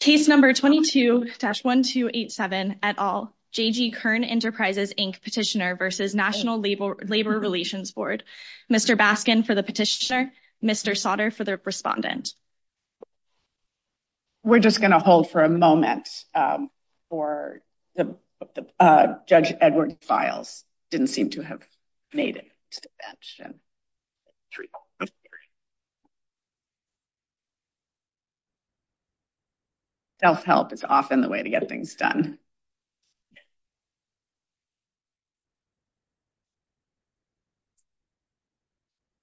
Case No. 22-1287, et al., J.G. Kern Enterprises, Inc. Petitioner v. National Labor Relations Board Mr. Baskin for the petitioner, Mr. Sautter for the respondent We're just going to hold for a moment for the Judge Edward Files who didn't seem to have made it to the bench. Self-help is often the way to get things done.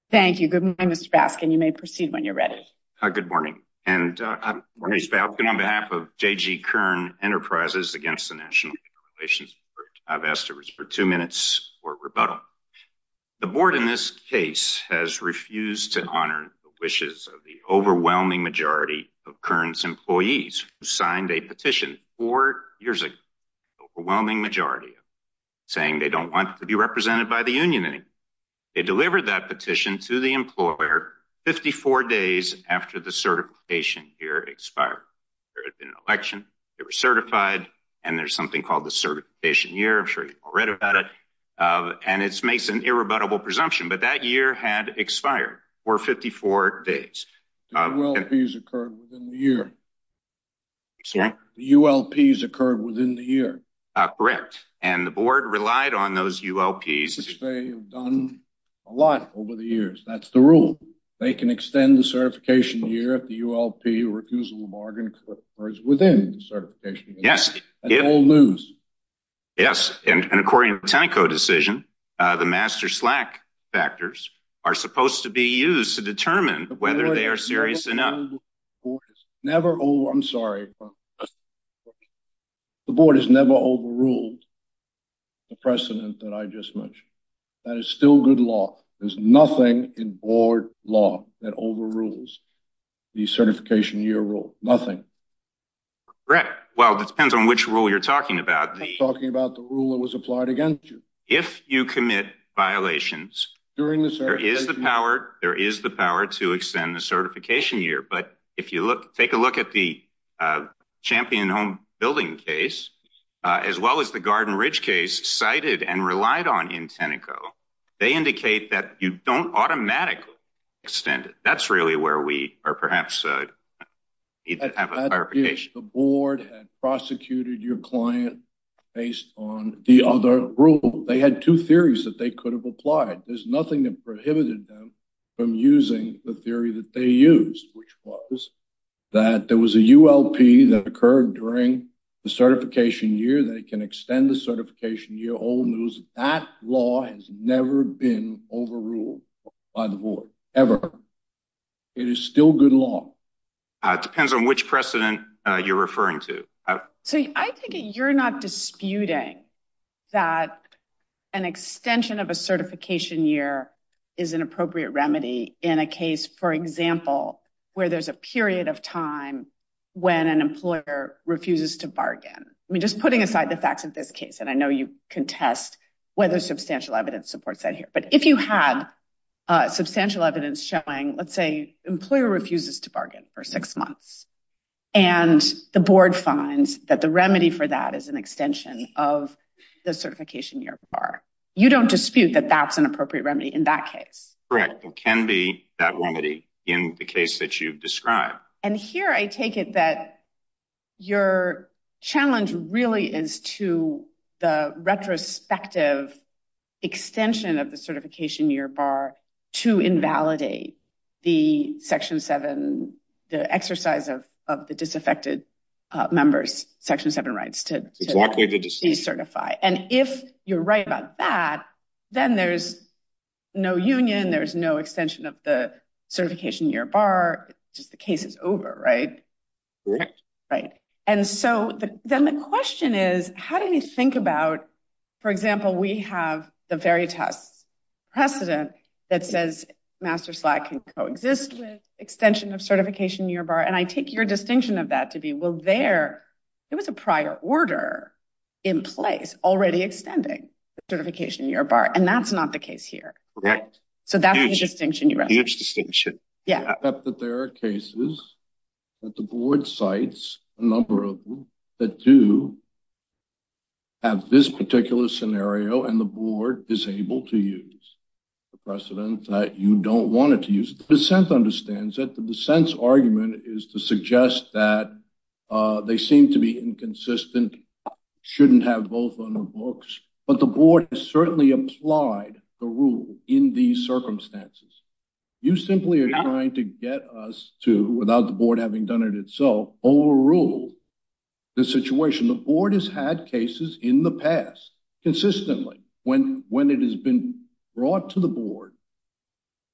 Thank you. Good morning, Mr. Baskin. You may proceed when you're ready. Good morning, and on behalf of J.G. Kern Enterprises v. National Labor Relations Board, I've asked for two minutes for rebuttal. The board in this case has refused to honor the wishes of the overwhelming majority of Kern's employees who signed a petition four years ago, the overwhelming majority saying they don't want to be represented by the union anymore. They delivered that petition to the employer 54 days after the certification year expired. There had been an election. They were certified. And there's something called the certification year. I'm sure you've all read about it. And it makes an irrebuttable presumption. But that year had expired for 54 days. The ULPs occurred within the year. Sorry? The ULPs occurred within the year. Correct. And the board relied on those ULPs. They have done a lot over the years. That's the rule. They can extend the certification year if the ULP refusal to bargain occurs within the certification year. Yes. And according to the Tenneco decision, the master slack factors are supposed to be used to determine whether they are serious enough. Never. Oh, I'm sorry. The board has never overruled the precedent that I just mentioned. That is still good law. There's nothing in board law that overrules the certification year rule. Nothing. Right. Well, it depends on which rule you're talking about. I'm talking about the rule that was applied against you. If you commit violations during the certification year, there is the power to extend the certification year. But if you take a look at the Champion Home Building case, as well as the Garden Ridge case cited and relied on in Tenneco, they indicate that you don't automatically extend it. That's really where we are. Perhaps the board had prosecuted your client based on the other rule. They had two theories that they could have applied. There's nothing that prohibited them from using the theory that they used, which was that there was a ULP that occurred during the certification year. They can extend the certification year. Old news. That law has never been overruled by the board ever. It is still good law. It depends on which precedent you're referring to. So I think you're not disputing that an extension of a certification year is an appropriate remedy in a case, for example, where there's a period of time when an employer refuses to bargain. I mean, just putting aside the facts of this case, and I know you contest whether substantial evidence supports that here. But if you had substantial evidence showing, let's say, employer refuses to bargain for six months and the board finds that the remedy for that is an extension of the certification year bar, you don't dispute that that's an appropriate remedy in that case. Correct. It can be that remedy in the case that you've described. And here I take it that your challenge really is to the retrospective extension of the certification year bar to invalidate the Section 7, the exercise of the disaffected members' Section 7 rights to decertify. And if you're right about that, then there's no union. There's no extension of the certification year bar. Just the case is over, right? Correct. Right. And so then the question is, how do you think about, for example, we have the very test precedent that says Master Slack can coexist with extension of certification year bar. And I take your distinction of that to be, well, there it was a prior order in place already extending certification year bar. And that's not the case here. Correct. So that's the distinction. I accept that there are cases that the board cites a number of them that do have this particular scenario. And the board is able to use the precedent that you don't want it to use. The dissent understands that the dissent's argument is to suggest that they seem to be inconsistent, shouldn't have both on their books. But the board has certainly applied the rule in these circumstances. You simply are trying to get us to, without the board having done it itself, overrule the situation. The board has had cases in the past consistently when it has been brought to the board.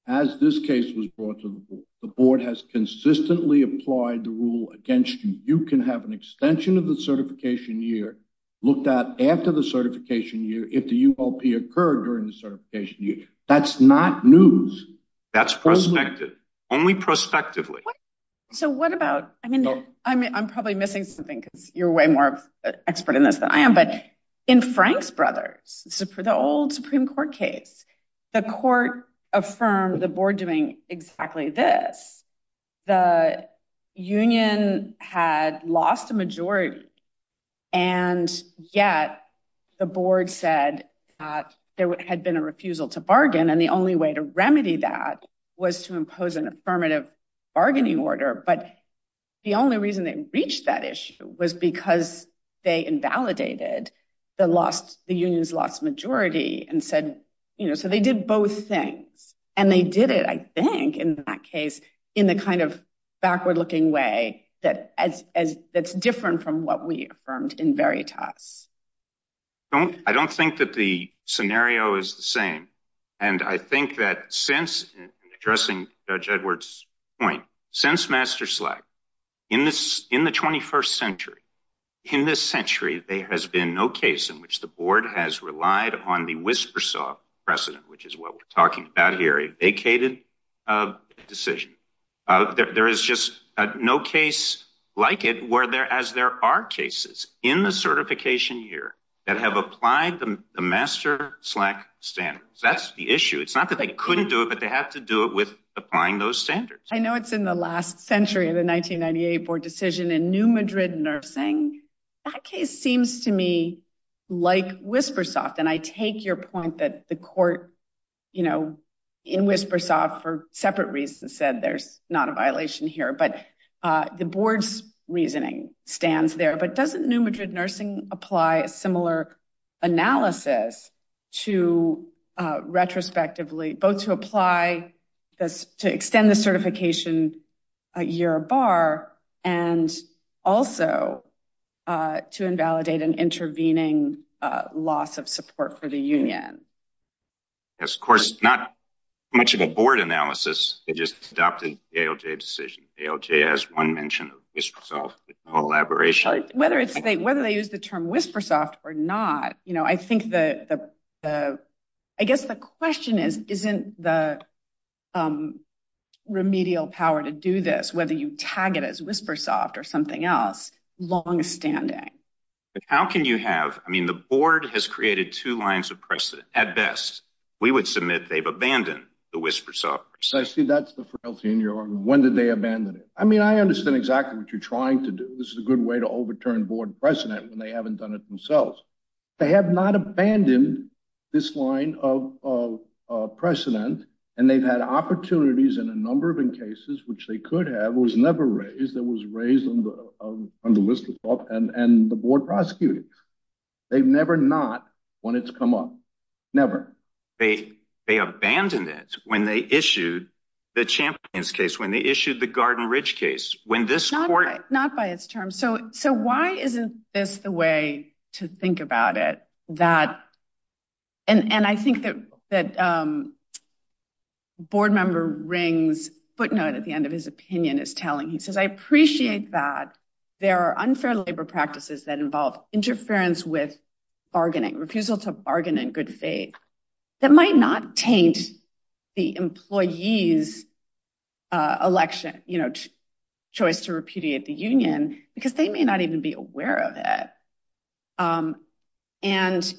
As this case was brought to the board, the board has consistently applied the rule against you. You can have an extension of the certification year looked at after the certification year if the ULP occurred during the certification year. That's not news. That's prospective. Only prospectively. So what about I mean, I'm probably missing something because you're way more expert in this than I am. But in Frank's brothers, the old Supreme Court case, the court affirmed the board doing exactly this. The union had lost a majority. And yet the board said there had been a refusal to bargain. And the only way to remedy that was to impose an affirmative bargaining order. But the only reason they reached that issue was because they invalidated the loss. The unions lost majority and said, you know, so they did both things and they did it. And I think in that case, in the kind of backward looking way that as that's different from what we affirmed in Veritas. I don't think that the scenario is the same. And I think that since addressing Judge Edwards point since master slack in this in the 21st century, in this century, there has been no case in which the board has relied on the whisper saw precedent, which is what we're talking about here, a vacated decision. There is just no case like it where there as there are cases in the certification year that have applied the master slack standards. That's the issue. It's not that they couldn't do it, but they have to do it with applying those standards. I know it's in the last century of the 1998 board decision in New Madrid nursing. That case seems to me like whisper soft. And I take your point that the court, you know, in whisper soft for separate reasons said there's not a violation here. But the board's reasoning stands there. But doesn't New Madrid nursing apply a similar analysis to retrospectively both to apply this to extend the certification year bar and also to invalidate an intervening loss of support for the union? Yes, of course, not much of a board analysis. It just adopted a decision. A.L.J. has one mention of collaboration, whether it's whether they use the term whisper soft or not. You know, I think the the I guess the question is, isn't the remedial power to do this, whether you tag it as whisper soft or something else long standing? How can you have I mean, the board has created two lines of precedent at best. We would submit they've abandoned the whisper soft. So I see that's the frailty in your arm. When did they abandon it? I mean, I understand exactly what you're trying to do. This is a good way to overturn board precedent when they haven't done it themselves. They have not abandoned this line of precedent. And they've had opportunities in a number of cases which they could have was never raised. That was raised on the list of and the board prosecuted. They've never not when it's come up. Never. They they abandoned it when they issued the champions case, when they issued the Garden Ridge case, when this not not by its term. So so why isn't this the way to think about it? That. And I think that that board member rings footnote at the end of his opinion is telling he says, I appreciate that there are unfair labor practices that involve interference with bargaining refusal to bargain in good faith. That might not taint the employees election choice to repudiate the union because they may not even be aware of it. And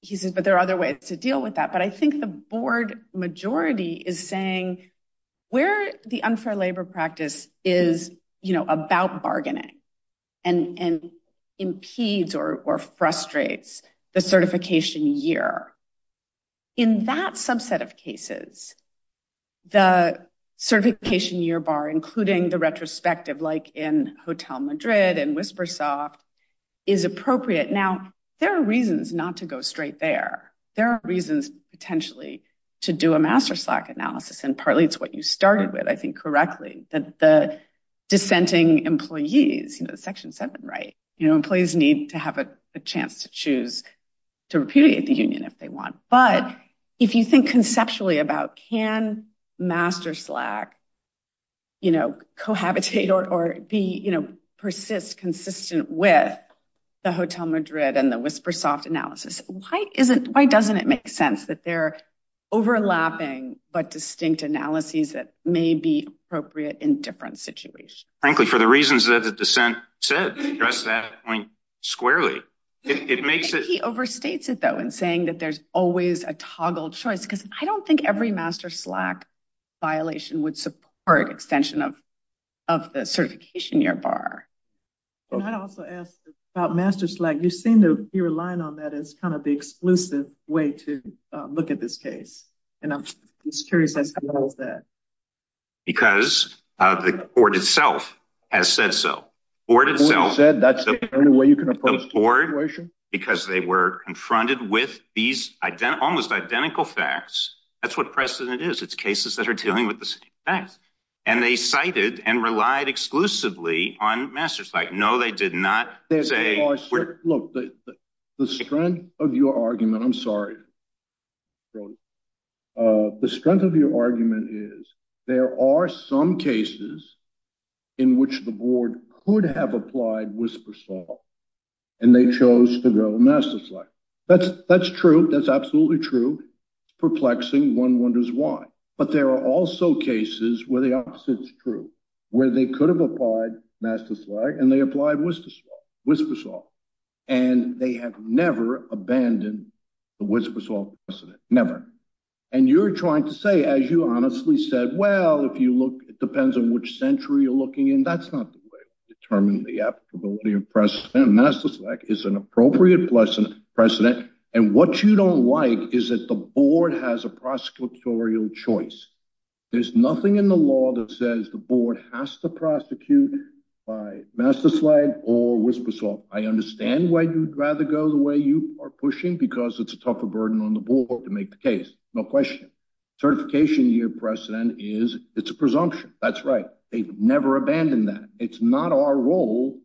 he says, but there are other ways to deal with that. But I think the board majority is saying where the unfair labor practice is about bargaining and impedes or frustrates the certification year. In that subset of cases, the certification year bar, including the retrospective, like in Hotel Madrid and Whispersoft, is appropriate. Now, there are reasons not to go straight there. There are reasons potentially to do a master slack analysis. And partly it's what you started with. I think correctly that the dissenting employees, section seven, right, employees need to have a chance to choose to repudiate the union if they want. But if you think conceptually about can master slack. You know, cohabitate or be, you know, persist consistent with the Hotel Madrid and the Whispersoft analysis. Why isn't why doesn't it make sense that they're overlapping but distinct analyses that may be appropriate in different situations? Frankly, for the reasons that the dissent said that point squarely, it makes it overstates it, though, and saying that there's always a toggle choice. Because I don't think every master slack violation would support extension of of the certification year bar. But I'd also ask about master slack. You seem to be relying on that as kind of the exclusive way to look at this case. And I'm just curious as to that. Because of the court itself has said so. Or to sell said that's the only way you can afford because they were confronted with these almost identical facts. That's what precedent is. It's cases that are dealing with the facts. And they cited and relied exclusively on message like, no, they did not say, look, the strength of your argument. I'm sorry. The strength of your argument is there are some cases in which the board would have applied whisper. And they chose to go master. That's that's true. That's absolutely true. Perplexing. One wonders why. But there are also cases where the opposite is true, where they could have applied master. And they applied was whisper. And they have never abandoned the whisper. Never. And you're trying to say, as you honestly said, well, if you look, it depends on which century you're looking in. That's not the way to determine the applicability of precedent. Master slack is an appropriate lesson precedent. And what you don't like is that the board has a prosecutorial choice. There's nothing in the law that says the board has to prosecute by master slide or whisper. So I understand why you'd rather go the way you are pushing, because it's a tougher burden on the board to make the case. No question. Certification year precedent is it's a presumption. That's right. They've never abandoned that. It's not our role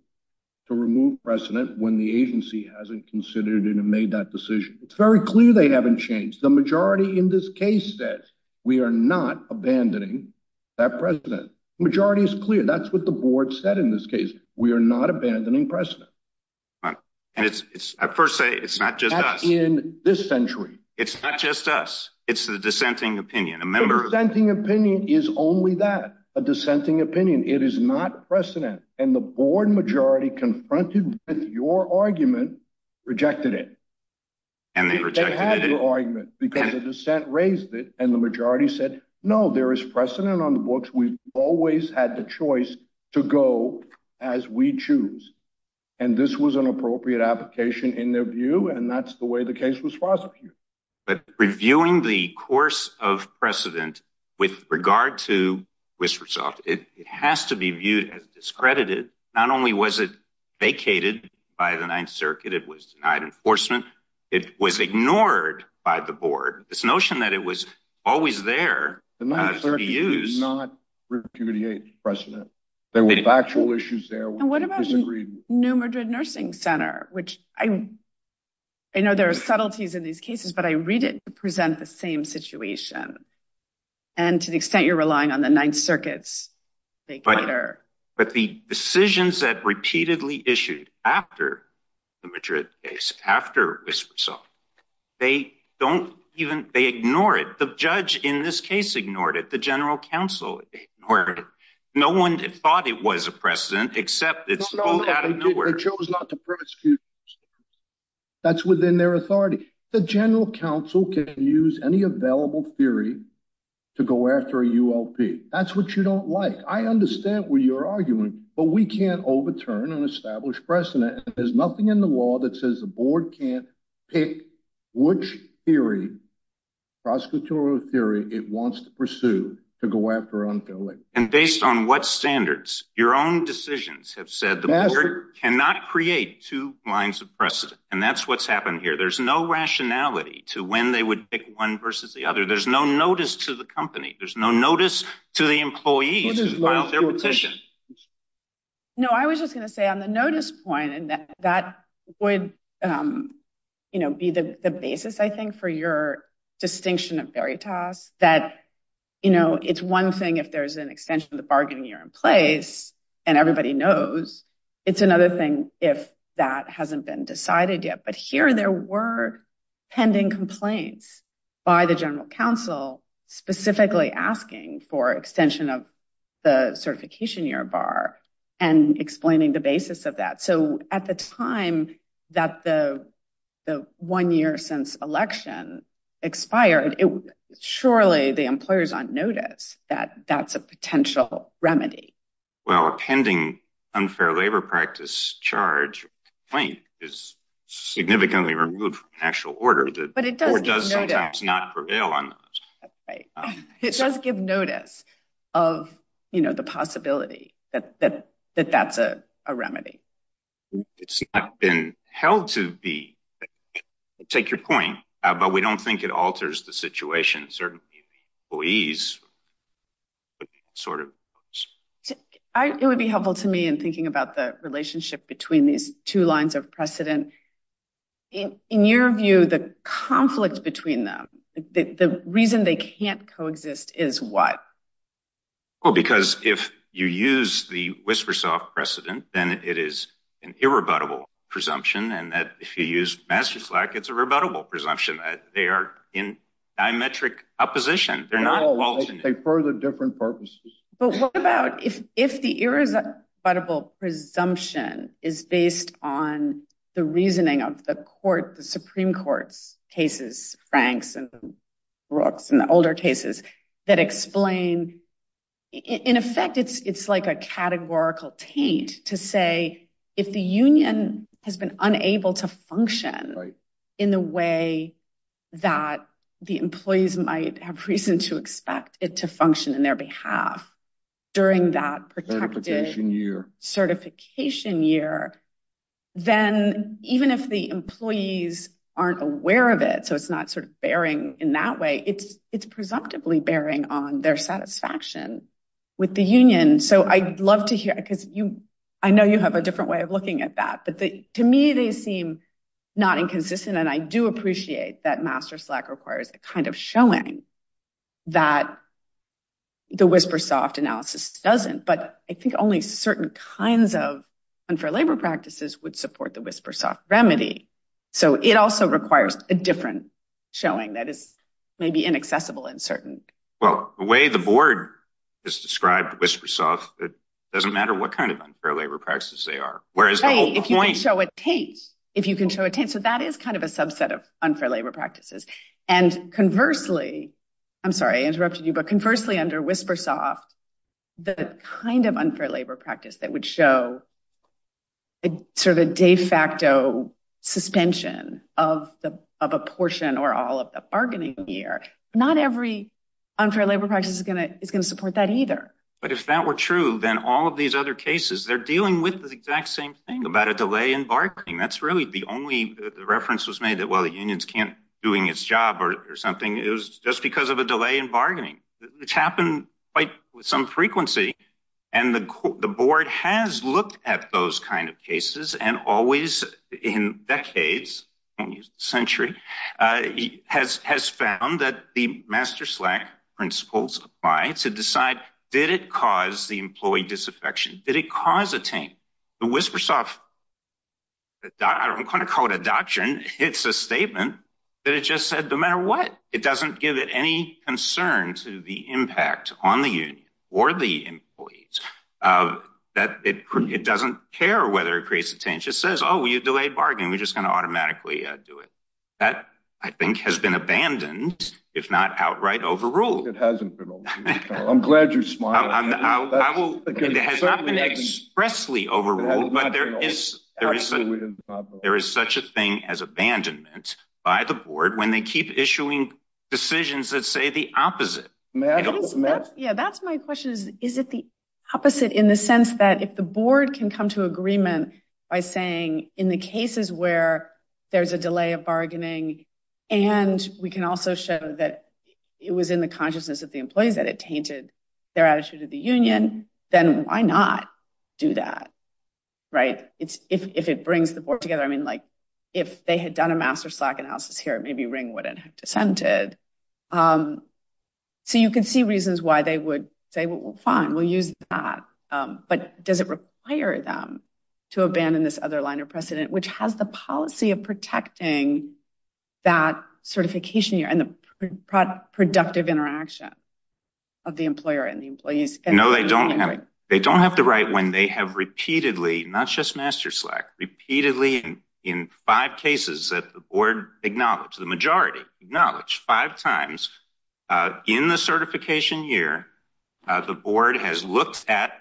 to remove precedent when the agency hasn't considered it and made that decision. It's very clear they haven't changed. The majority in this case says we are not abandoning that precedent. Majority is clear. That's what the board said in this case. We are not abandoning precedent. And it's I first say it's not just in this century. It's not just us. It's the dissenting opinion. A member of the opinion is only that a dissenting opinion. It is not precedent. And the board majority confronted with your argument rejected it. And they had their argument because the dissent raised it. And the majority said, no, there is precedent on the books. We've always had the choice to go as we choose. And this was an appropriate application in their view. And that's the way the case was prosecuted. But reviewing the course of precedent with regard to whisper soft, it has to be viewed as discredited. Not only was it vacated by the 9th Circuit, it was denied enforcement. It was ignored by the board. This notion that it was always there. The 9th Circuit did not repudiate precedent. There were factual issues there. And what about New Madrid Nursing Center, which I know there are subtleties in these cases, but I read it to present the same situation. And to the extent you're relying on the 9th Circuits later. But the decisions that repeatedly issued after the Madrid case, after this result, they don't even they ignore it. But the judge in this case ignored it. The general counsel ignored it. No one thought it was a precedent, except it's pulled out of nowhere. They chose not to prosecute. That's within their authority. The general counsel can use any available theory to go after a ULP. That's what you don't like. I understand what you're arguing, but we can't overturn an established precedent. There's nothing in the law that says the board can't pick which theory, prosecutorial theory, it wants to pursue to go after an ULP. And based on what standards, your own decisions have said the board cannot create two lines of precedent. And that's what's happened here. There's no rationality to when they would pick one versus the other. There's no notice to the company. There's no notice to the employees who filed their petition. No, I was just going to say on the notice point, and that would be the basis, I think, for your distinction of veritas. That, you know, it's one thing if there's an extension of the bargaining year in place and everybody knows, it's another thing if that hasn't been decided yet. But here there were pending complaints by the general counsel specifically asking for extension of the certification year bar and explaining the basis of that. So at the time that the one year since election expired, surely the employers on notice that that's a potential remedy. Well, a pending unfair labor practice charge complaint is significantly removed from the actual order. But it does sometimes not prevail on those. It does give notice of the possibility that that's a remedy. It's not been held to be. Take your point. But we don't think it alters the situation. Certainly, please sort of. It would be helpful to me in thinking about the relationship between these two lines of precedent. In your view, the conflict between them, the reason they can't coexist is what? Well, because if you use the whisper soft precedent, then it is an irrebuttable presumption. And that if you use master slack, it's a rebuttable presumption that they are in diametric opposition. They're not for the different purposes. But what about if if the irresistible presumption is based on the reasoning of the court, the Supreme Court's cases, Franks and Brooks and the older cases that explain. In effect, it's it's like a categorical taint to say if the union has been unable to function in the way that the employees might have reason to expect it to function in their behalf. During that year certification year, then even if the employees aren't aware of it, so it's not sort of bearing in that way, it's it's presumptively bearing on their satisfaction with the union. And so I'd love to hear because you I know you have a different way of looking at that. But to me, they seem not inconsistent. And I do appreciate that master slack requires a kind of showing that the whisper soft analysis doesn't. But I think only certain kinds of unfair labor practices would support the whisper soft remedy. So it also requires a different showing that is maybe inaccessible in certain. Well, the way the board is described whisper soft, it doesn't matter what kind of unfair labor practices they are. Whereas if you show a taint, if you can show a taint. So that is kind of a subset of unfair labor practices. And conversely, I'm sorry I interrupted you, but conversely under whisper soft, the kind of unfair labor practice that would show sort of a de facto suspension of a portion or all of the bargaining here. Not every unfair labor practice is going to is going to support that either. But if that were true, then all of these other cases, they're dealing with the exact same thing about a delay in bargaining. That's really the only reference was made that, well, the unions can't doing its job or something. It was just because of a delay in bargaining which happened with some frequency. And the board has looked at those kind of cases and always in decades century has has found that the master slack principles apply to decide. Did it cause the employee disaffection? Did it cause a taint? The whisper soft, I don't want to call it a doctrine. It's a statement that it just said, no matter what, it doesn't give it any concern to the impact on the union or the employees that it doesn't care whether it creates a taint. It says, oh, you delay bargaining. We're just going to automatically do it. That, I think, has been abandoned, if not outright overruled. It hasn't been. I'm glad you smile. It has not been expressly overruled, but there is there is there is such a thing as abandonment by the board when they keep issuing decisions that say the opposite. Yeah, that's my question. Is it the opposite in the sense that if the board can come to agreement by saying in the cases where there's a delay of bargaining and we can also show that it was in the consciousness of the employees that it tainted their attitude of the union, then why not do that? Right. If it brings the board together, I mean, like if they had done a master slack analysis here, maybe Ring wouldn't have dissented. So you can see reasons why they would say, well, fine, we'll use that. But does it require them to abandon this other line of precedent, which has the policy of protecting that certification and the productive interaction of the employer and the employees? No, they don't. They don't have the right when they have repeatedly, not just master slack repeatedly in five cases that the board acknowledge the majority knowledge five times in the certification year. The board has looked at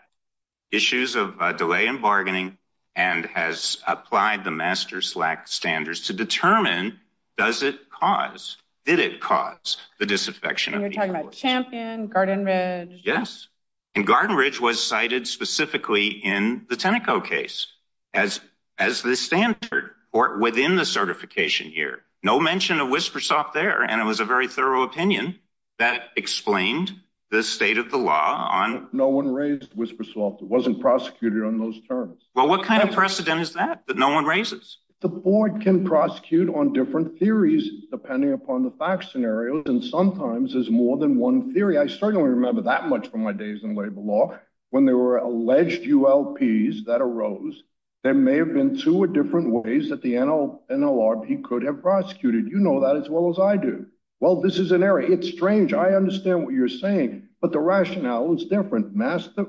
issues of delay in bargaining and has applied the master slack standards to determine does it cause did it cause the disaffection? And you're talking about champion Garden Ridge? Yes. And Garden Ridge was cited specifically in the Tenneco case as as the standard or within the certification here. No mention of Whispersoft there. And it was a very thorough opinion that explained the state of the law on. No one raised Whispersoft. It wasn't prosecuted on those terms. Well, what kind of precedent is that? The board can prosecute on different theories, depending upon the facts scenarios. And sometimes there's more than one theory. I certainly remember that much from my days in labor law when there were alleged U.L.P. that arose. There may have been two or different ways that the NL NLRP could have prosecuted. You know that as well as I do. Well, this is an area. It's strange. I understand what you're saying, but the rationale is different. Master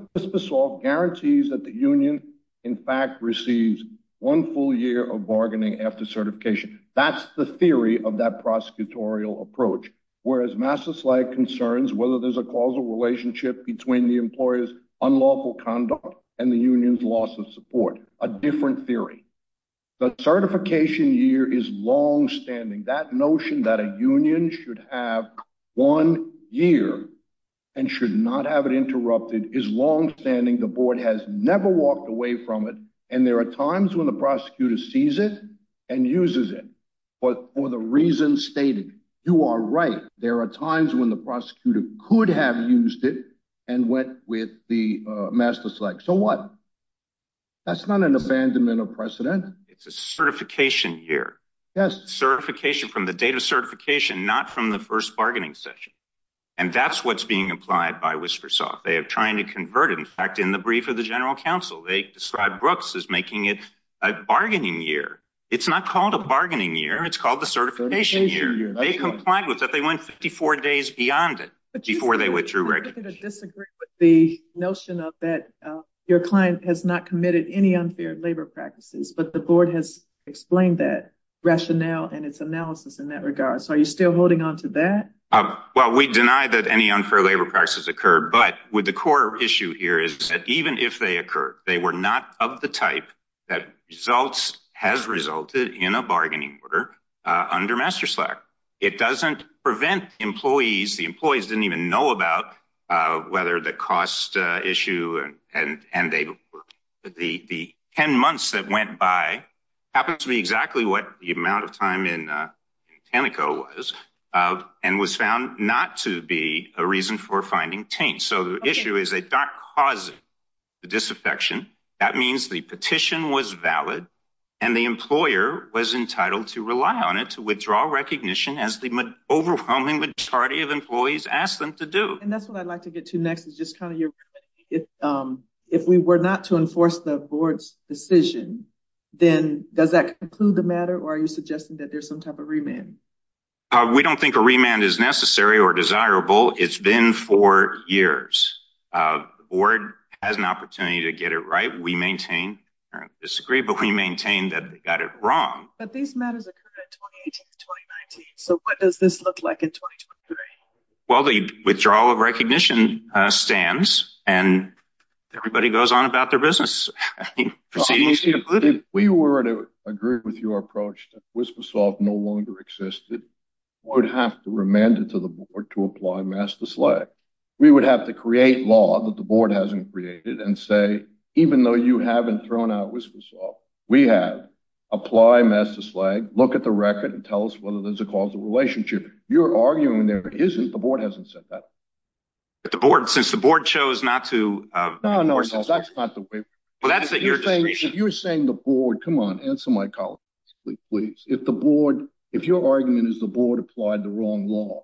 all guarantees that the union, in fact, receives one full year of bargaining after certification. That's the theory of that prosecutorial approach, whereas masses like concerns, whether there's a causal relationship between the employer's unlawful conduct and the union's loss of support. A different theory. The certification year is longstanding. That notion that a union should have one year and should not have it interrupted is longstanding. The board has never walked away from it. And there are times when the prosecutor sees it and uses it. But for the reasons stated, you are right. There are times when the prosecutor could have used it and went with the master select. So what? That's not an abandonment of precedent. It's a certification year. Yes. Certification from the date of certification, not from the first bargaining session. And that's what's being applied by Whispersoft. They are trying to convert, in fact, in the brief of the general counsel. They described Brooks as making it a bargaining year. It's not called a bargaining year. It's called the certification. They complied with that. They went 54 days beyond it. I disagree with the notion of that. Your client has not committed any unfair labor practices. But the board has explained that rationale and its analysis in that regard. So are you still holding on to that? Well, we deny that any unfair labor practices occur. But with the core issue here is that even if they occur, they were not of the type that results has resulted in a bargaining order under master slack. It doesn't prevent employees. The employees didn't even know about whether the cost issue and they were the 10 months that went by. Happens to be exactly what the amount of time in Tenneco was and was found not to be a reason for finding taint. So the issue is they don't cause the disaffection. That means the petition was valid and the employer was entitled to rely on it to withdraw recognition as the overwhelming majority of employees asked them to do. And that's what I'd like to get to next is just kind of if if we were not to enforce the board's decision, then does that include the matter? Or are you suggesting that there's some type of remand? We don't think a remand is necessary or desirable. It's been four years. The board has an opportunity to get it right. We maintain or disagree, but we maintain that we got it wrong. But these matters occurred in 2018, 2019. So what does this look like in 2023? Well, the withdrawal of recognition stands and everybody goes on about their business proceedings. If we were to agree with your approach, Wispisoft no longer existed. We would have to remand it to the board to apply master slag. We would have to create law that the board hasn't created and say, even though you haven't thrown out Wispisoft, we have apply master slag. Look at the record and tell us whether there's a causal relationship. You're arguing there isn't. The board hasn't said that. But the board, since the board chose not to. No, no, that's not the way. Well, that's that you're saying. If you're saying the board, come on, answer my colleague, please. If the board if your argument is the board applied the wrong law.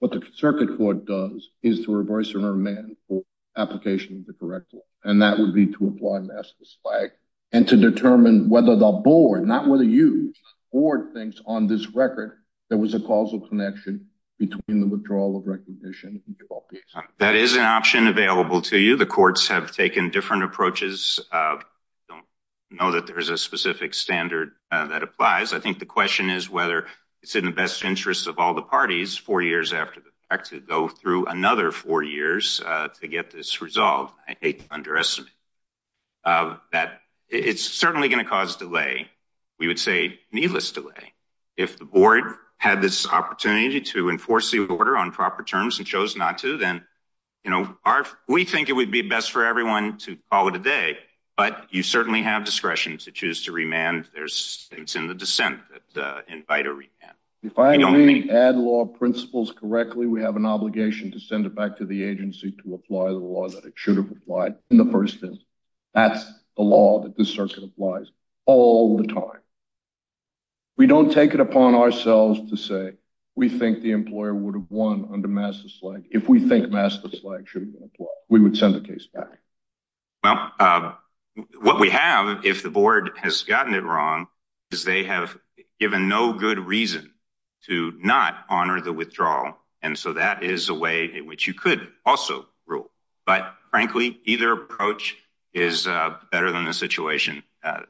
What the circuit court does is to reverse a remand for application of the correct law. And that would be to apply master slag and to determine whether the board, not whether you or things on this record, there was a causal connection between the withdrawal of recognition. That is an option available to you. The courts have taken different approaches. Don't know that there is a specific standard that applies. I think the question is whether it's in the best interest of all the parties four years after the fact to go through another four years to get this resolved. Underestimate that it's certainly going to cause delay. We would say needless delay. If the board had this opportunity to enforce the order on proper terms and chose not to, then, you know, we think it would be best for everyone to follow today. But you certainly have discretion to choose to remand. There's things in the dissent that invite a remand. If I add law principles correctly, we have an obligation to send it back to the agency to apply the law that it should have applied in the first instance. That's the law that the circuit applies all the time. We don't take it upon ourselves to say we think the employer would have won under master slag. If we think master slag, we would send the case back. Well, what we have, if the board has gotten it wrong, is they have given no good reason to not honor the withdrawal. And so that is a way in which you could also rule. But frankly, either approach is better than the situation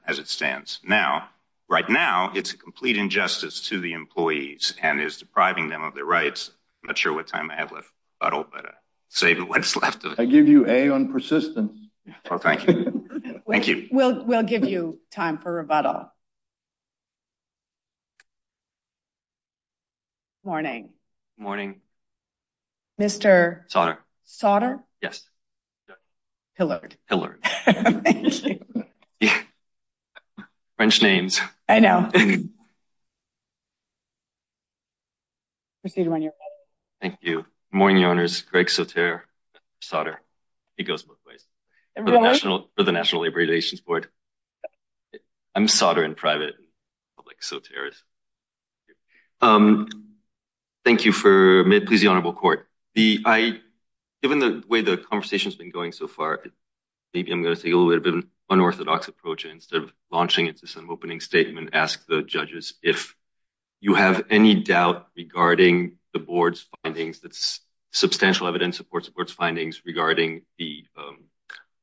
as it stands now. Right now, it's a complete injustice to the employees and is depriving them of their rights. Not sure what time I have left, but I'll save what's left of it. I give you A on persistence. Thank you. Thank you. We'll give you time for rebuttal. Morning. Morning. Mr. Sauter. Sauter? Yes. Pillard. Pillard. French names. I know. Thank you. Morning, owners. Greg Sauter. Sauter. It goes both ways. For the National Labor Relations Board. I'm Sauter in private. Public Sauter. Thank you for, please, the honorable court. Given the way the conversation has been going so far, maybe I'm going to take a little bit of an unorthodox approach. Instead of launching it to some opening statement, ask the judges if you have any doubt regarding the board's findings. That's substantial evidence support supports findings regarding the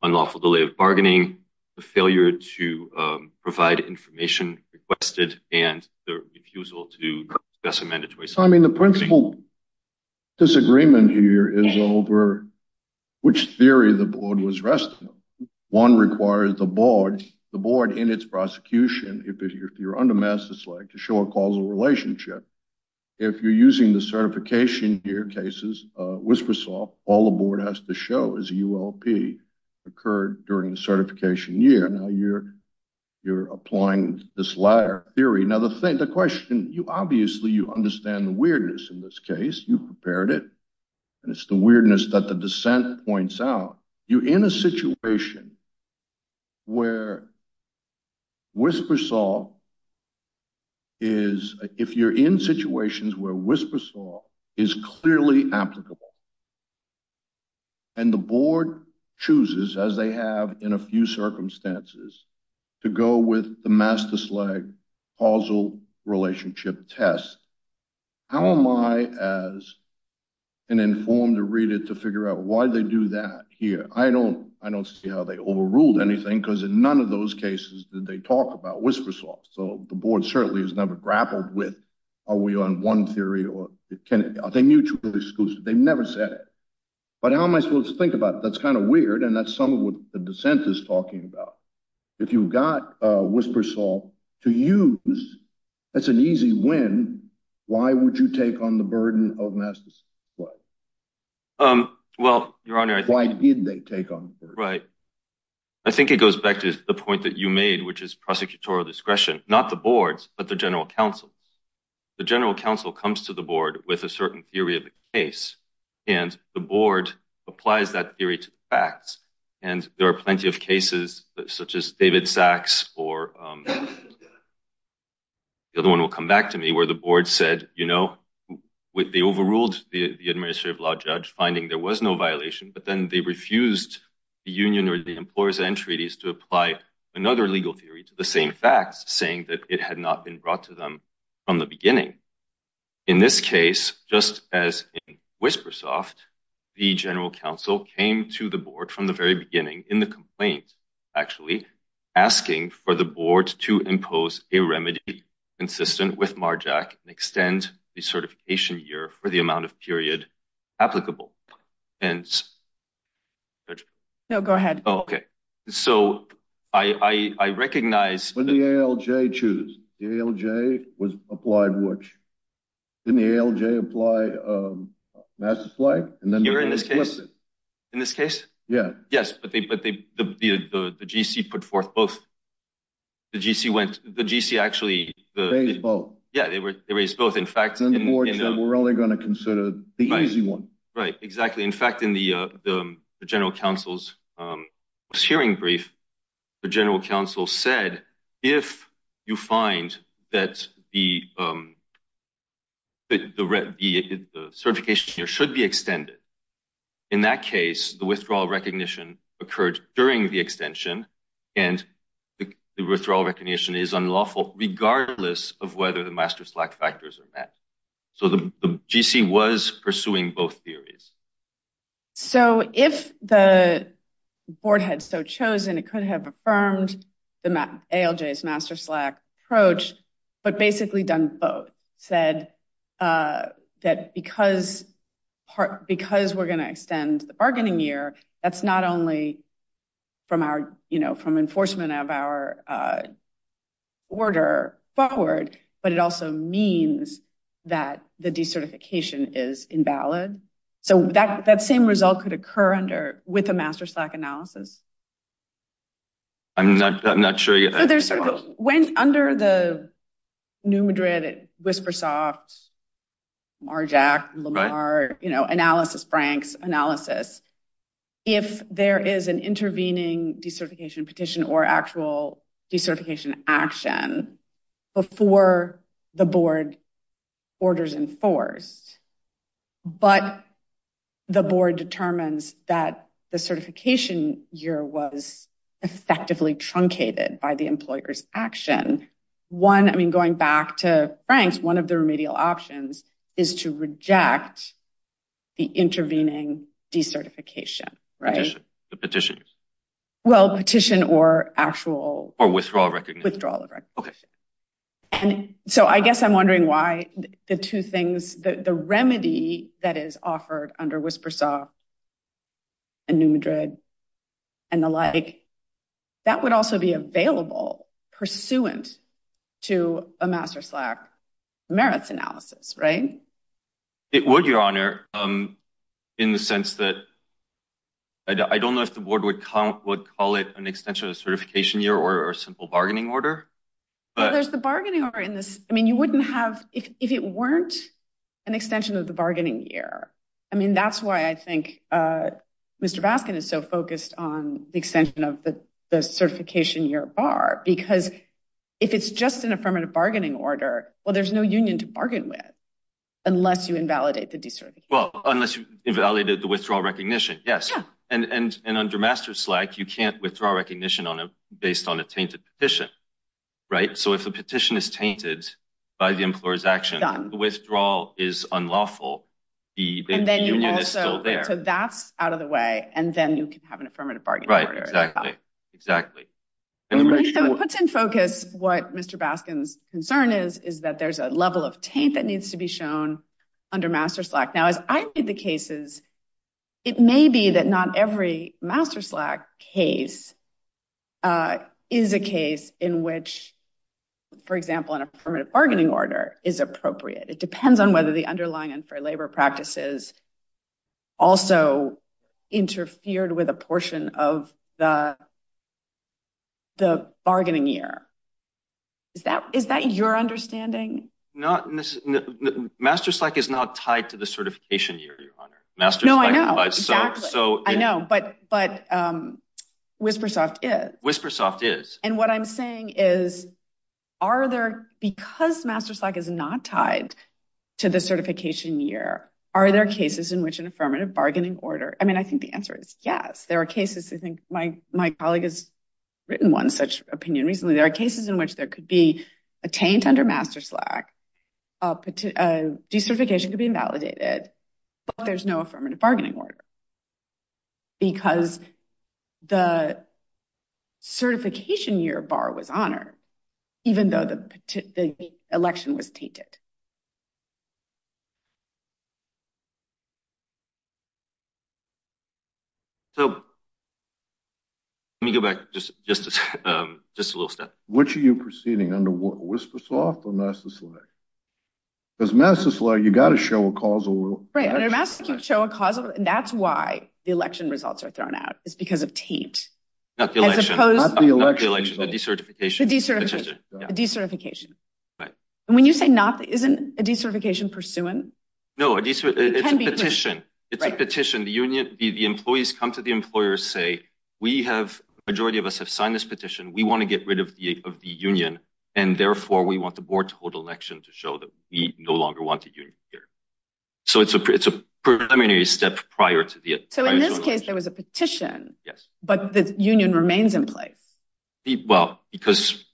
unlawful delay of bargaining. The failure to provide information requested and the refusal to discuss a mandatory. So, I mean, the principle disagreement here is over which theory the board was resting. One requires the board, the board in its prosecution. If you're under mass, it's like to show a causal relationship. If you're using the certification here, cases, whispersaw, all the board has to show is UOP occurred during the certification year. You're you're applying this ladder theory. Now, the thing the question you obviously you understand the weirdness in this case, you prepared it. And it's the weirdness that the dissent points out. You're in a situation where. Whispersaw is if you're in situations where whispersaw is clearly applicable. And the board chooses, as they have in a few circumstances to go with the master slag causal relationship test. How am I as an informed to read it to figure out why they do that here? I don't I don't see how they overruled anything because in none of those cases that they talk about whispersaw. So the board certainly has never grappled with. Are we on one theory or are they mutually exclusive? They never said it. But how am I supposed to think about it? That's kind of weird. And that's some of what the dissent is talking about. If you've got whispersaw to use, that's an easy win. Why would you take on the burden of mass? Well, your honor, why did they take on? Right. I think it goes back to the point that you made, which is prosecutorial discretion, not the boards, but the general counsel. The general counsel comes to the board with a certain theory of the case and the board applies that theory to the facts. And there are plenty of cases such as David Sachs or. The other one will come back to me where the board said, you know, they overruled the administrative law judge finding there was no violation, but then they refused the union or the employers and treaties to apply another legal theory to the same facts, saying that it had not been brought to them from the beginning. In this case, just as in Whispersoft, the general counsel came to the board from the very beginning in the complaint, actually asking for the board to impose a remedy consistent with Marjack and extend the certification year for the amount of period applicable. And. No, go ahead. OK, so I recognize the ALJ choose. The ALJ was applied, which in the ALJ apply that's like. And then you're in this case in this case. Yeah. Yes. But the G.C. put forth both. The G.C. went the G.C. actually both. Yeah, they were both. In fact, we're only going to consider the easy one. Right. Exactly. In fact, in the general counsel's hearing brief, the general counsel said, if you find that the. The certification here should be extended. In that case, the withdrawal recognition occurred during the extension and the withdrawal recognition is unlawful, regardless of whether the master slack factors are met. So the G.C. was pursuing both theories. So if the board had so chosen, it could have affirmed the ALJ's master slack approach, but basically done both said that because part because we're going to extend the bargaining year, that's not only from our, you know, from enforcement of our order forward, but it also means that the decertification is invalid. So that that same result could occur under with a master slack analysis. I'm not I'm not sure. There's sort of went under the new Madrid, but at Whispersoft, Marjack, Lamar, you know, analysis, Frank's analysis. If there is an intervening decertification petition or actual decertification action before the board orders enforced, but the board determines that the certification year was effectively truncated by the employer's action. One, I mean, going back to Frank's, one of the remedial options is to reject the intervening decertification. Right. The petition. Well, petition or actual withdrawal, withdrawal. OK. And so I guess I'm wondering why the two things, the remedy that is offered under Whispersoft. And new Madrid and the like, that would also be available pursuant to a master slack merits analysis, right? It would, Your Honor, in the sense that. I don't know if the board would would call it an extension of certification year or a simple bargaining order. But there's the bargaining order in this. I mean, you wouldn't have if it weren't an extension of the bargaining year. I mean, that's why I think Mr. Baskin is so focused on the extension of the certification year bar, because if it's just an affirmative bargaining order, well, there's no union to bargain with unless you invalidate the. Well, unless you invalidate the withdrawal recognition. Yes. And under master slack, you can't withdraw recognition on a based on a tainted petition. Right. So if a petition is tainted by the employer's action, the withdrawal is unlawful. The union is still there. So that's out of the way. And then you can have an affirmative bargaining. Right. Exactly. Exactly. And it puts in focus what Mr. Baskin's concern is, is that there's a level of taint that needs to be shown under master slack. Now, as I read the cases, it may be that not every master slack case is a case in which, for example, an affirmative bargaining order is appropriate. It depends on whether the underlying unfair labor practices also interfered with a portion of the. The bargaining year. Is that is that your understanding? Not master slack is not tied to the certification year. Your master. No, I know. So I know. But but Whispersoft is. And what I'm saying is, are there because master slack is not tied to the certification year? Are there cases in which an affirmative bargaining order? I mean, I think the answer is yes. There are cases. I think my my colleague has written one such opinion recently. There are cases in which there could be a taint under master slack. De-certification could be invalidated, but there's no affirmative bargaining order. Because the certification year bar was honored, even though the election was tainted. So. Let me go back just just just a little step. Which are you proceeding under? What? Whispersoft or master slack? Because master slack, you've got to show a causal. Right. I'm going to ask you to show a causal. That's why the election results are thrown out. It's because of taint. Not the election. Not the election. De-certification. De-certification. De-certification. And when you say not, isn't a de-certification pursuant? No, it's a petition. It's a petition. The union. The employees come to the employers, say we have majority of us have signed this petition. We want to get rid of the of the union. And therefore, we want the board to hold election to show that we no longer want a union here. So it's a it's a preliminary step prior to the. So in this case, there was a petition. Yes. But the union remains in place. Well, because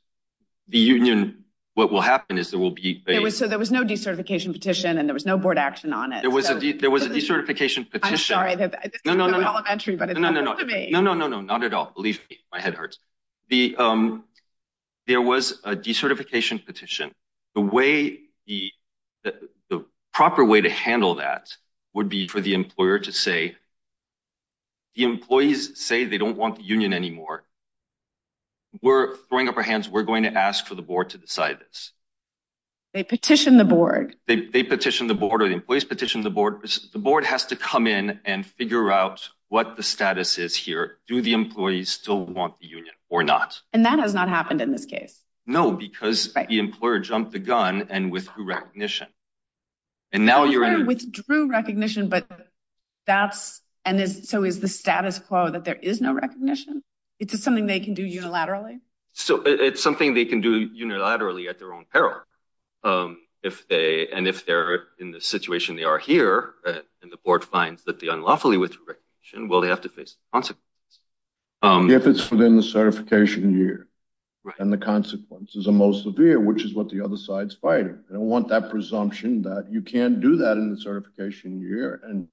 the union, what will happen is there will be. So there was no decertification petition and there was no board action on it. There was a there was a decertification petition. I'm sorry. No, no, no, no, no, no, no, no, no, no, no. Not at all. Believe me, my head hurts. The there was a decertification petition. The way the the proper way to handle that would be for the employer to say. The employees say they don't want the union anymore. We're throwing up our hands, we're going to ask for the board to decide this. They petitioned the board, they petitioned the board or the employees petitioned the board. The board has to come in and figure out what the status is here. Do the employees still want the union or not? And that has not happened in this case. No, because the employer jumped the gun and withdrew recognition. And now you're in withdrew recognition, but that's. And so is the status quo that there is no recognition? It's just something they can do unilaterally. So it's something they can do unilaterally at their own peril. If they and if they're in the situation they are here and the board finds that the unlawfully withdrew recognition. Well, they have to face the consequences if it's within the certification year. And the consequences are most severe, which is what the other side's fighting. I don't want that presumption that you can't do that in the certification year. And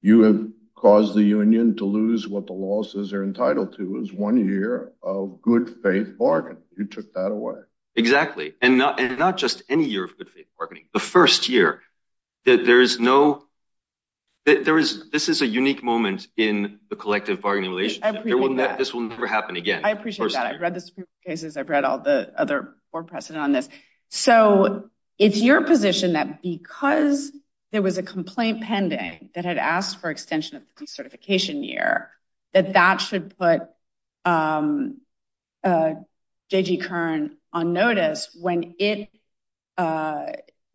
you have caused the union to lose what the law says they're entitled to is one year of good faith bargaining. You took that away. Exactly. And not just any year of good faith bargaining. The first year that there is no. This is a unique moment in the collective bargaining relationship. I appreciate that. This will never happen again. I appreciate that. I've read the Supreme Court cases. I've read all the other board precedent on this. So it's your position that because there was a complaint pending that had asked for extension of the certification year, that that should put J.G. Kern on notice when it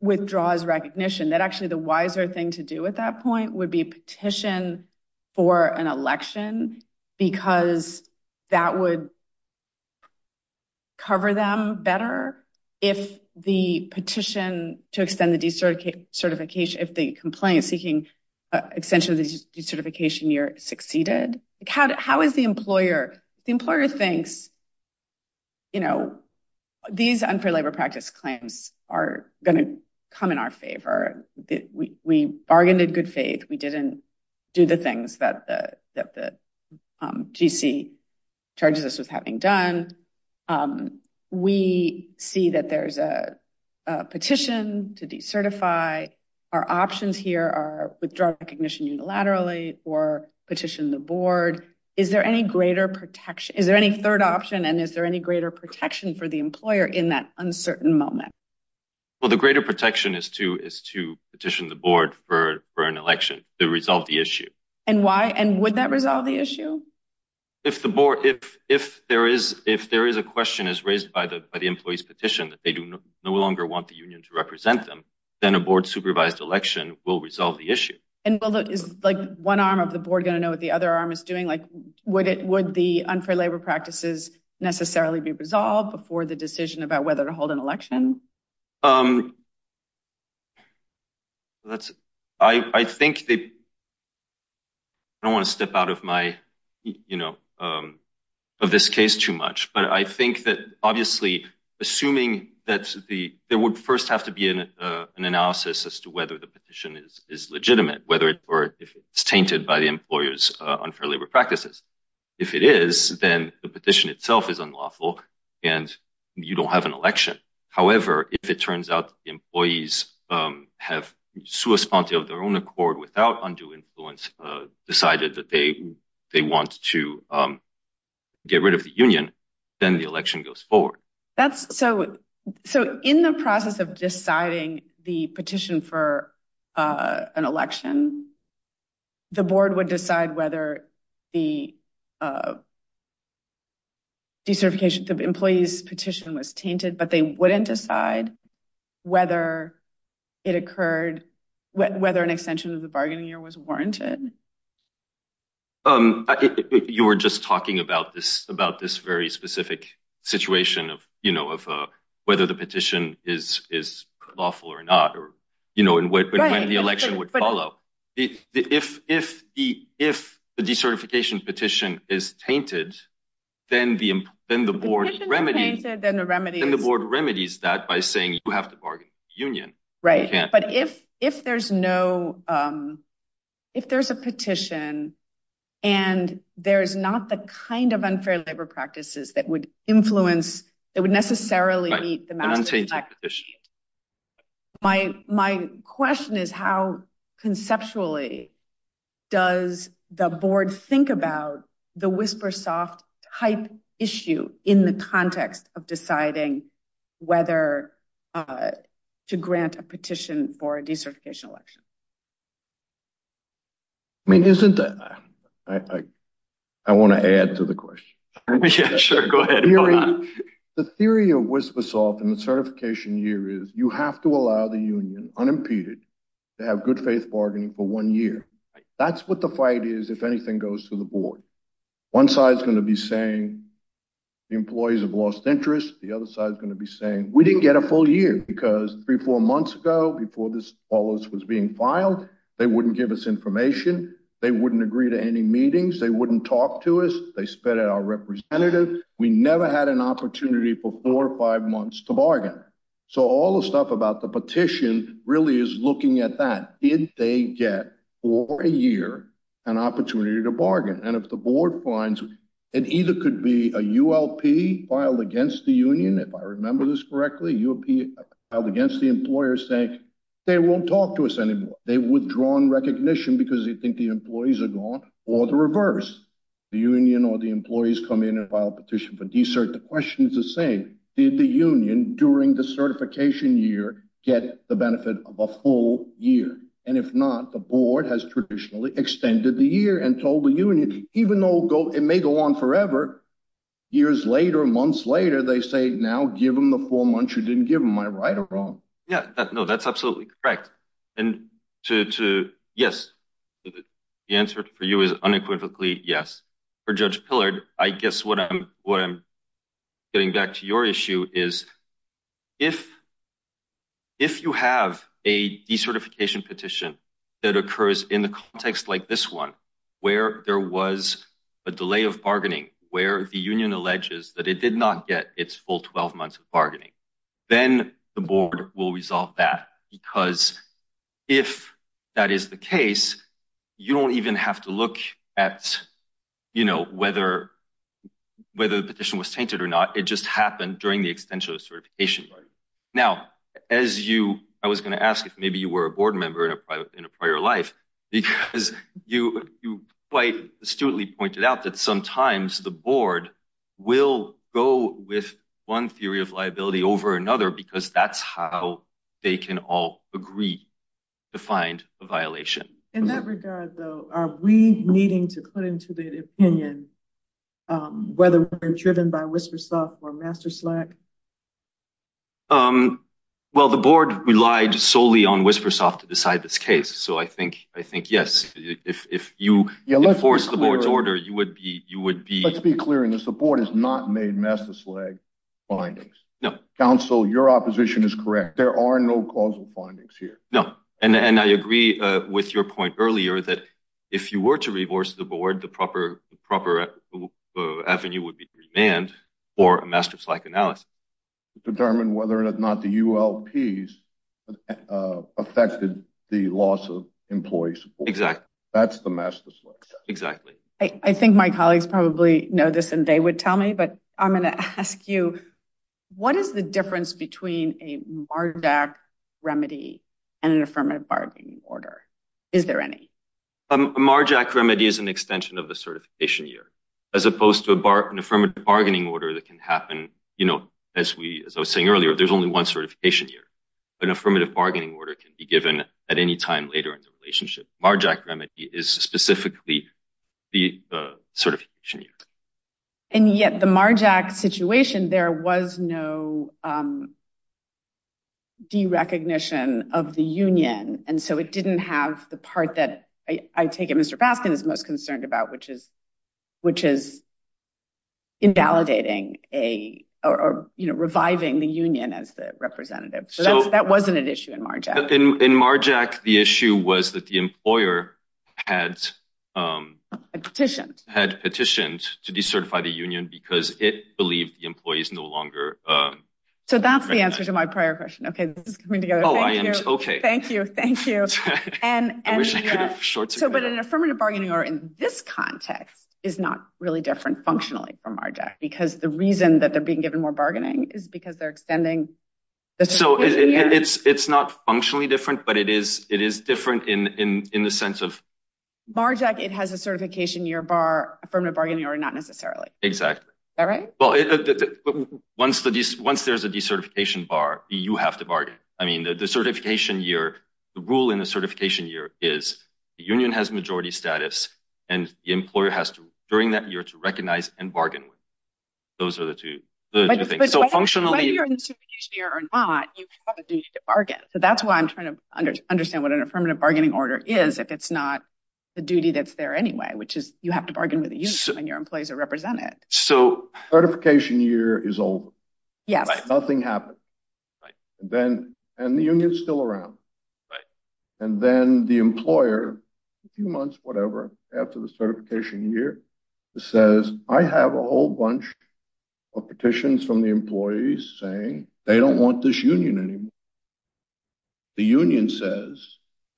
withdraws recognition that actually the wiser thing to do at that point would be petition for an election because that would. Cover them better if the petition to extend the certification, if the complaint seeking extension of the certification year succeeded. How is the employer? The employer thinks. You know, these unfair labor practice claims are going to come in our favor. We bargained in good faith. We didn't do the things that the GC charges us with having done. We see that there's a petition to decertify. Our options here are withdraw recognition unilaterally or petition the board. Is there any greater protection? Is there any third option? And is there any greater protection for the employer in that uncertain moment? Well, the greater protection is to is to petition the board for for an election to resolve the issue. And why? And would that resolve the issue? If the board if if there is if there is a question is raised by the employees petition that they do no longer want the union to represent them, then a board supervised election will resolve the issue. And is one arm of the board going to know what the other arm is doing? Like, would it would the unfair labor practices necessarily be resolved before the decision about whether to hold an election? I think. I don't want to step out of my, you know, of this case too much. But I think that obviously assuming that the there would first have to be an analysis as to whether the petition is legitimate, whether or if it's tainted by the employer's unfair labor practices. If it is, then the petition itself is unlawful and you don't have an election. However, if it turns out employees have source of their own accord without undue influence, decided that they they want to get rid of the union, then the election goes forward. That's so so in the process of deciding the petition for an election, the board would decide whether the. De-certification of employees petition was tainted, but they wouldn't decide whether it occurred, whether an extension of the bargaining year was warranted. You were just talking about this, about this very specific situation of, you know, of whether the petition is is lawful or not, or, you know, when the election would follow. If if the if the decertification petition is tainted, then the then the board remedy, then the remedy and the board remedies that by saying you have to bargain union. Right. But if if there's no if there's a petition and there is not the kind of unfair labor practices that would influence, it would necessarily meet the mandate. My, my question is how conceptually does the board think about the whisper soft type issue in the context of deciding whether to grant a petition for a decertification election? I mean, isn't that I, I want to add to the question. Sure, go ahead. The theory of whisper soft and the certification year is you have to allow the union unimpeded to have good faith bargaining for one year. That's what the fight is. If anything goes to the board, one side is going to be saying the employees have lost interest. The other side is going to be saying we didn't get a full year because three, four months ago before this was being filed, they wouldn't give us information. They wouldn't agree to any meetings. They wouldn't talk to us. They spit at our representative. We never had an opportunity for four or five months to bargain. So, all the stuff about the petition really is looking at that. Did they get for a year an opportunity to bargain? And if the board finds it either could be a ULP filed against the union. If I remember this correctly, you'll be held against the employer saying they won't talk to us anymore. They've withdrawn recognition because they think the employees are gone or the reverse. The union or the employees come in and file a petition for de-cert. The question is the same. Did the union during the certification year get the benefit of a full year? And if not, the board has traditionally extended the year and told the union, even though it may go on forever. Years later, months later, they say now give them the four months you didn't give them. Am I right or wrong? Yeah, no, that's absolutely correct. And yes, the answer for you is unequivocally yes. For Judge Pillard, I guess what I'm getting back to your issue is if you have a de-certification petition that occurs in the context like this one, where there was a delay of bargaining, where the union alleges that it did not get its full 12 months of bargaining, then the board will resolve that. Because if that is the case, you don't even have to look at, you know, whether whether the petition was tainted or not. It just happened during the extension of certification. Now, as you I was going to ask if maybe you were a board member in a prior life, because you quite astutely pointed out that sometimes the board will go with one theory of liability over another because that's how they can all agree to find a violation. In that regard, though, are we needing to put into the opinion whether we're driven by Whispersoft or Master Slack? Well, the board relied solely on Whispersoft to decide this case, so I think I think, yes, if you enforce the board's order, you would be you would be. Let's be clear in this. The board has not made Master Slack findings. No. Counsel, your opposition is correct. There are no causal findings here. No. And I agree with your point earlier that if you were to reverse the board, the proper proper avenue would be demand for a Master Slack analysis. Determine whether or not the ULPs affected the loss of employees. Exactly. That's the Master Slack. Exactly. I think my colleagues probably know this and they would tell me, but I'm going to ask you, what is the difference between a Mardak remedy and an affirmative bargaining order? Is there any Marjack remedy is an extension of the certification year as opposed to a bar, an affirmative bargaining order that can happen? You know, as we as I was saying earlier, there's only one certification here. An affirmative bargaining order can be given at any time later in the relationship. Marjack remedy is specifically the certification. And yet the Marjack situation, there was no. De-recognition of the union, and so it didn't have the part that I take it Mr. Baskin is most concerned about, which is which is. Invalidating a or reviving the union as the representative. So that wasn't an issue in Marjack. In Marjack. The issue was that the employer had petitioned, had petitioned to decertify the union because it believed the employees no longer. So that's the answer to my prior question. OK, this is coming together. Oh, I am. OK, thank you. Thank you. And I wish I could have shorts. So but an affirmative bargaining or in this context is not really different functionally from Marjack because the reason that they're being given more bargaining is because they're extending. So it's not functionally different, but it is it is different in the sense of Marjack. It has a certification year bar from a bargaining or not necessarily. Exactly. All right. Well, once the once there's a decertification bar, you have to bargain. I mean, the certification year, the rule in the certification year is the union has majority status. And the employer has to during that year to recognize and bargain with. Those are the two things. So functionally, whether you're in the certification year or not, you have a duty to bargain. So that's why I'm trying to understand what an affirmative bargaining order is, if it's not the duty that's there anyway, which is you have to bargain with the union when your employees are represented. So certification year is over. Yes. Nothing happened. Then and the union is still around. And then the employer, a few months, whatever, after the certification year says, I have a whole bunch of petitions from the employees saying they don't want this union anymore. The union says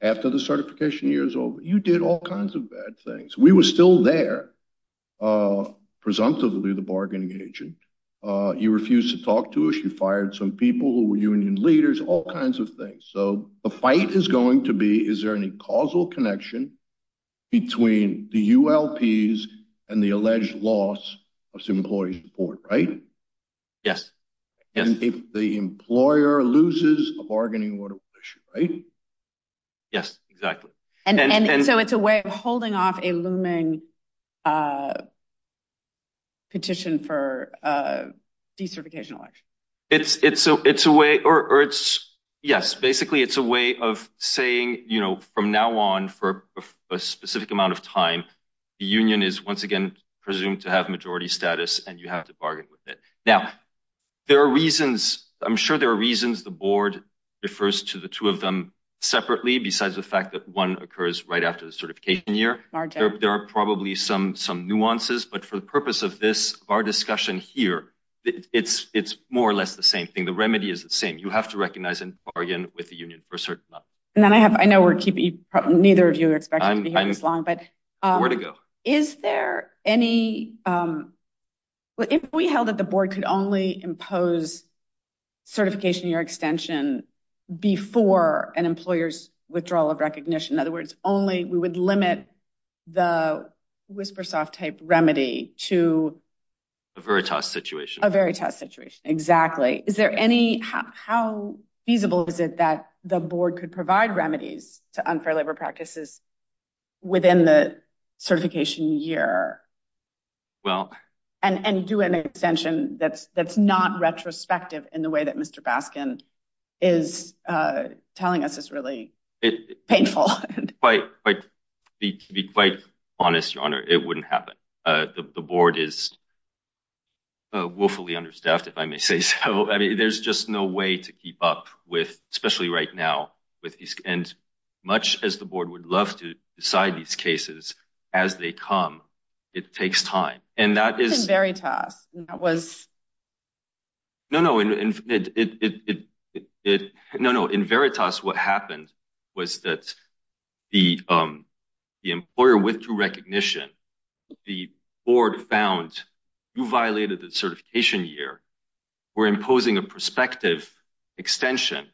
after the certification year is over, you did all kinds of bad things. We were still there. Presumptively, the bargaining agent, you refused to talk to us. You fired some people who were union leaders, all kinds of things. So the fight is going to be, is there any causal connection between the U.S. and the alleged loss of employee support? Right. Yes. And if the employer loses a bargaining order, right. Yes, exactly. And so it's a way of holding off a looming petition for decertification election. It's it's so it's a way or it's yes. Basically, it's a way of saying, you know, from now on for a specific amount of time, the union is once again presumed to have majority status and you have to bargain with it. Now, there are reasons I'm sure there are reasons the board refers to the two of them separately. Besides the fact that one occurs right after the certification year, there are probably some some nuances. But for the purpose of this, our discussion here, it's it's more or less the same thing. The remedy is the same. You have to recognize and bargain with the union for a certain amount. And then I have I know we're keeping neither of you are expected to be here this long, but where to go. Is there any if we held that the board could only impose certification your extension before an employer's withdrawal of recognition? In other words, only we would limit the whisper soft tape remedy to a very tough situation, a very tough situation. Exactly. Is there any how feasible is it that the board could provide remedies to unfair labor practices within the certification year? Well, and do an extension that's that's not retrospective in the way that Mr. Baskin is telling us is really painful. But to be quite honest, your honor, it wouldn't happen. The board is. Willfully understaffed, if I may say so, I mean, there's just no way to keep up with, especially right now with these and much as the board would love to decide these cases as they come, it takes time. And that is very tough. That was. No, no, no, no, no. In Veritas, what happened was that the the employer withdrew recognition, the board found you violated the certification year. We're imposing a prospective extension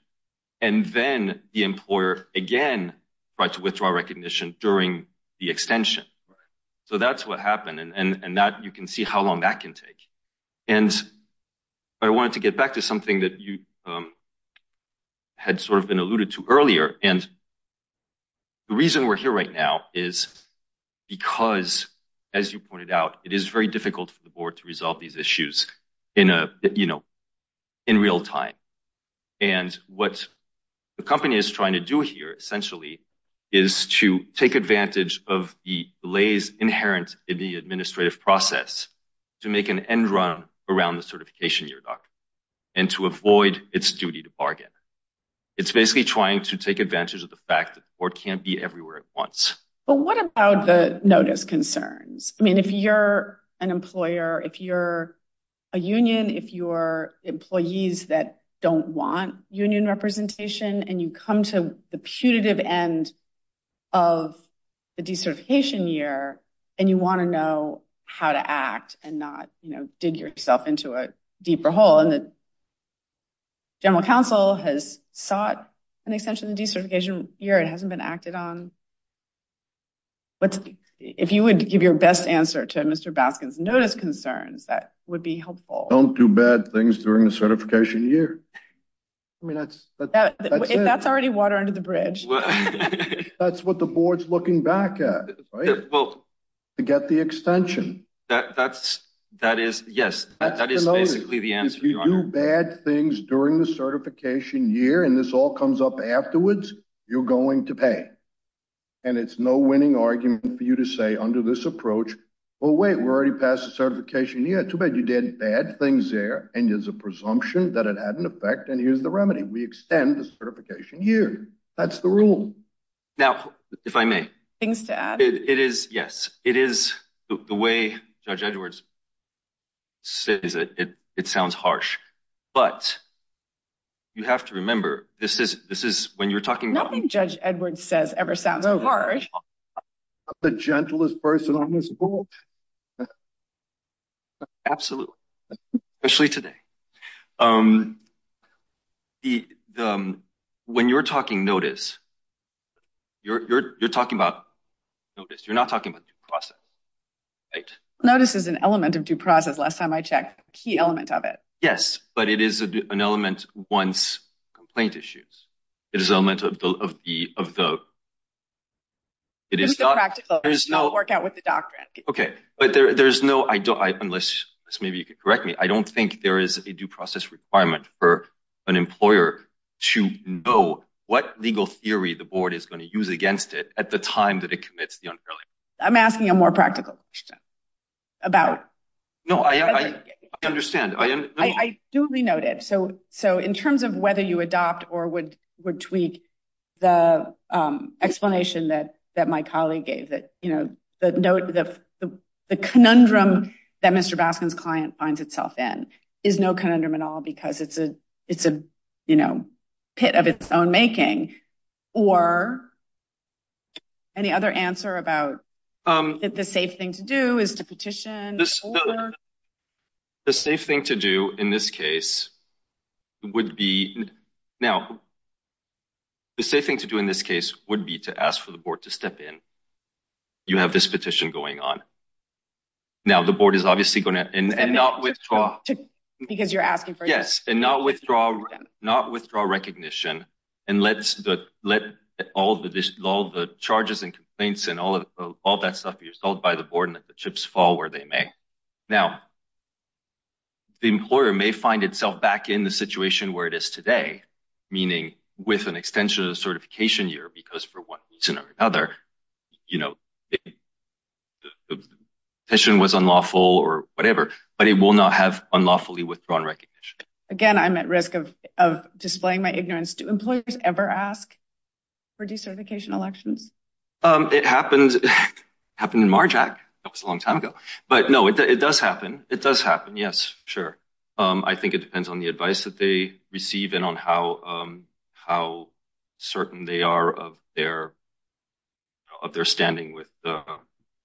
and then the employer again tried to withdraw recognition during the extension. So that's what happened. And that you can see how long that can take. And I wanted to get back to something that you had sort of been alluded to earlier. And the reason we're here right now is because, as you pointed out, it is very difficult for the board to resolve these issues in a you know, in real time. And what the company is trying to do here essentially is to take advantage of the lays inherent in the administrative process to make an end run around the certification year and to avoid its duty to bargain. It's basically trying to take advantage of the fact that it can't be everywhere at once. But what about the notice concerns? I mean, if you're an employer, if you're a union, if you're employees that don't want union representation and you come to the punitive end of the decertification year and you want to know how to act and not dig yourself into a deeper hole. And the general counsel has sought an extension of the decertification year. It hasn't been acted on. But if you would give your best answer to Mr. Baskin's notice concerns, that would be helpful. Don't do bad things during the certification year. I mean, that's that's already water under the bridge. That's what the board's looking back at. Well, to get the extension, that's that is yes. That is basically the answer on bad things during the certification year. And this all comes up afterwards. You're going to pay. And it's no winning argument for you to say under this approach. Oh, wait, we're already past the certification. Yeah, too bad. You did bad things there. And there's a presumption that it had an effect. And here's the remedy. We extend the certification year. That's the rule. Now, if I may, it is. Yes, it is. The way Judge Edwards says it, it sounds harsh. But you have to remember, this is this is when you're talking about Judge Edwards says ever sounds harsh. The gentlest person on this board. Absolutely. Actually, today, when you're talking notice, you're talking about notice. You're not talking about the process. Notice is an element of due process. Last time I checked key element of it. Yes, but it is an element. Once complaint issues, it is element of the of the. It is not practical. There's no work out with the doctor. Okay. But there's no I don't. Unless maybe you could correct me. I don't think there is a due process requirement for an employer to know what legal theory the board is going to use against it at the time that it commits the unfairly. I'm asking a more practical question about. No, I understand. I do be noted. So so in terms of whether you adopt or would would tweak the explanation that that my colleague gave that, you know, the note of the conundrum that Mr. Baskin's client finds itself in is no conundrum at all because it's a it's a, you know, pit of its own making or any other answer about the safe thing to do is to petition. The safe thing to do in this case would be now. The safe thing to do in this case would be to ask for the board to step in. You have this petition going on. Now, the board is obviously going to and not withdraw because you're asking for. Yes. And not withdraw, not withdraw recognition. And let's let all the charges and complaints and all of all that stuff be resolved by the board and that the chips fall where they may. Now. The employer may find itself back in the situation where it is today, meaning with an extension of the certification year, because for one reason or another, you know. The petition was unlawful or whatever, but it will not have unlawfully withdrawn recognition. Again, I'm at risk of displaying my ignorance to employers ever ask for decertification elections. It happens. Happened in Marjack. That was a long time ago. But no, it does happen. It does happen. Yes. Sure. I think it depends on the advice that they receive and on how how certain they are of their. Of their standing with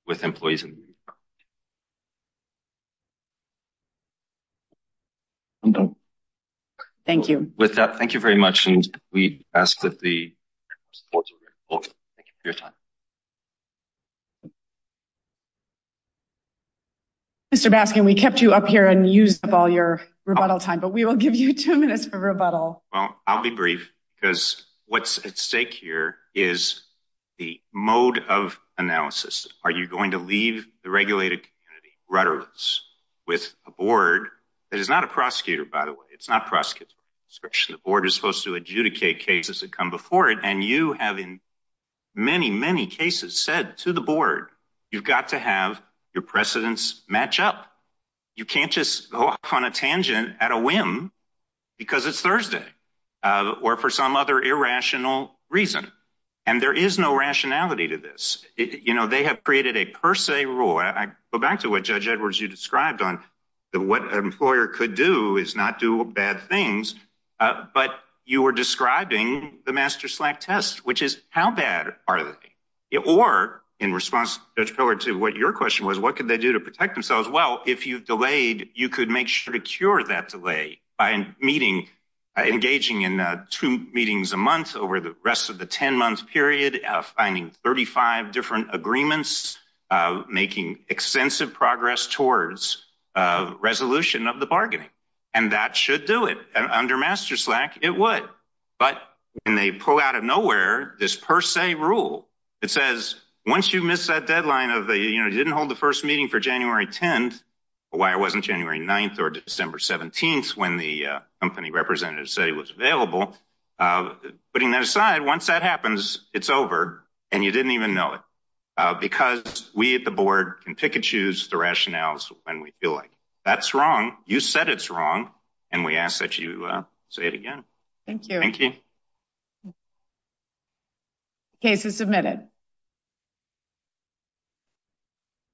with employees. Thank you. With that, thank you very much. And we ask that the. Your time. Mr. Baskin, we kept you up here and use all your rebuttal time, but we will give you two minutes for rebuttal. Well, I'll be brief because what's at stake here is the mode of analysis. Are you going to leave the regulated rudderless with a board that is not a prosecutor, by the way? It's not prosecutor discretion. The board is supposed to adjudicate cases that come before it. And you have in many, many cases said to the board, you've got to have your precedents match up. You can't just go on a tangent at a whim because it's Thursday or for some other irrational reason. And there is no rationality to this. You know, they have created a per se rule. I go back to what Judge Edwards, you described on the what an employer could do is not do bad things. But you were describing the master slack test, which is how bad are they? Or in response to what your question was, what could they do to protect themselves? Well, if you've delayed, you could make sure to cure that delay by meeting, engaging in two meetings a month over the rest of the 10 month period, finding thirty five different agreements, making extensive progress towards resolution of the bargaining. And that should do it under master slack. It would. But when they pull out of nowhere, this per se rule, it says, once you miss that deadline of you didn't hold the first meeting for January 10th, why it wasn't January 9th or December 17th when the company representative said he was available. Putting that aside, once that happens, it's over. And you didn't even know it because we at the board can pick and choose the rationales. And we feel like that's wrong. You said it's wrong. And we ask that you say it again. Thank you. Thank you. Case is submitted.